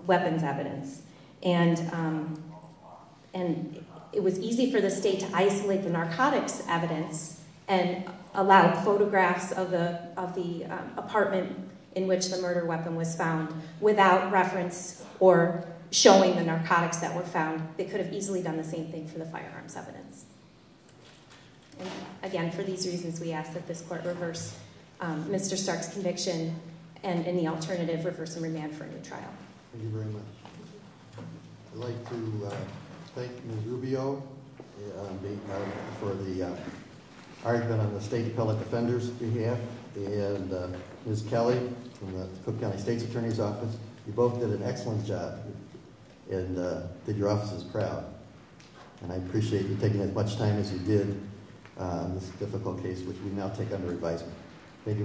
weapons evidence? And it was easy for the state to isolate the narcotics evidence and allow photographs of the apartment in which the murder weapon was found without reference or showing the narcotics that were found. They could have easily done the same thing for the firearms evidence. Again, for these reasons we ask that this court reverse Mr. Stark's conviction and in the alternative reverse and remand for a new trial. Thank you very much. I'd like to thank Ms. Rubio for the argument on the state appellate defender's behalf and Ms. Kelly from the Cook County State's Attorney's Office. You both did an excellent job and did your offices proud. And I appreciate you taking as much time as you did on this difficult case which we now take under advisement. Thank you very much. All rise.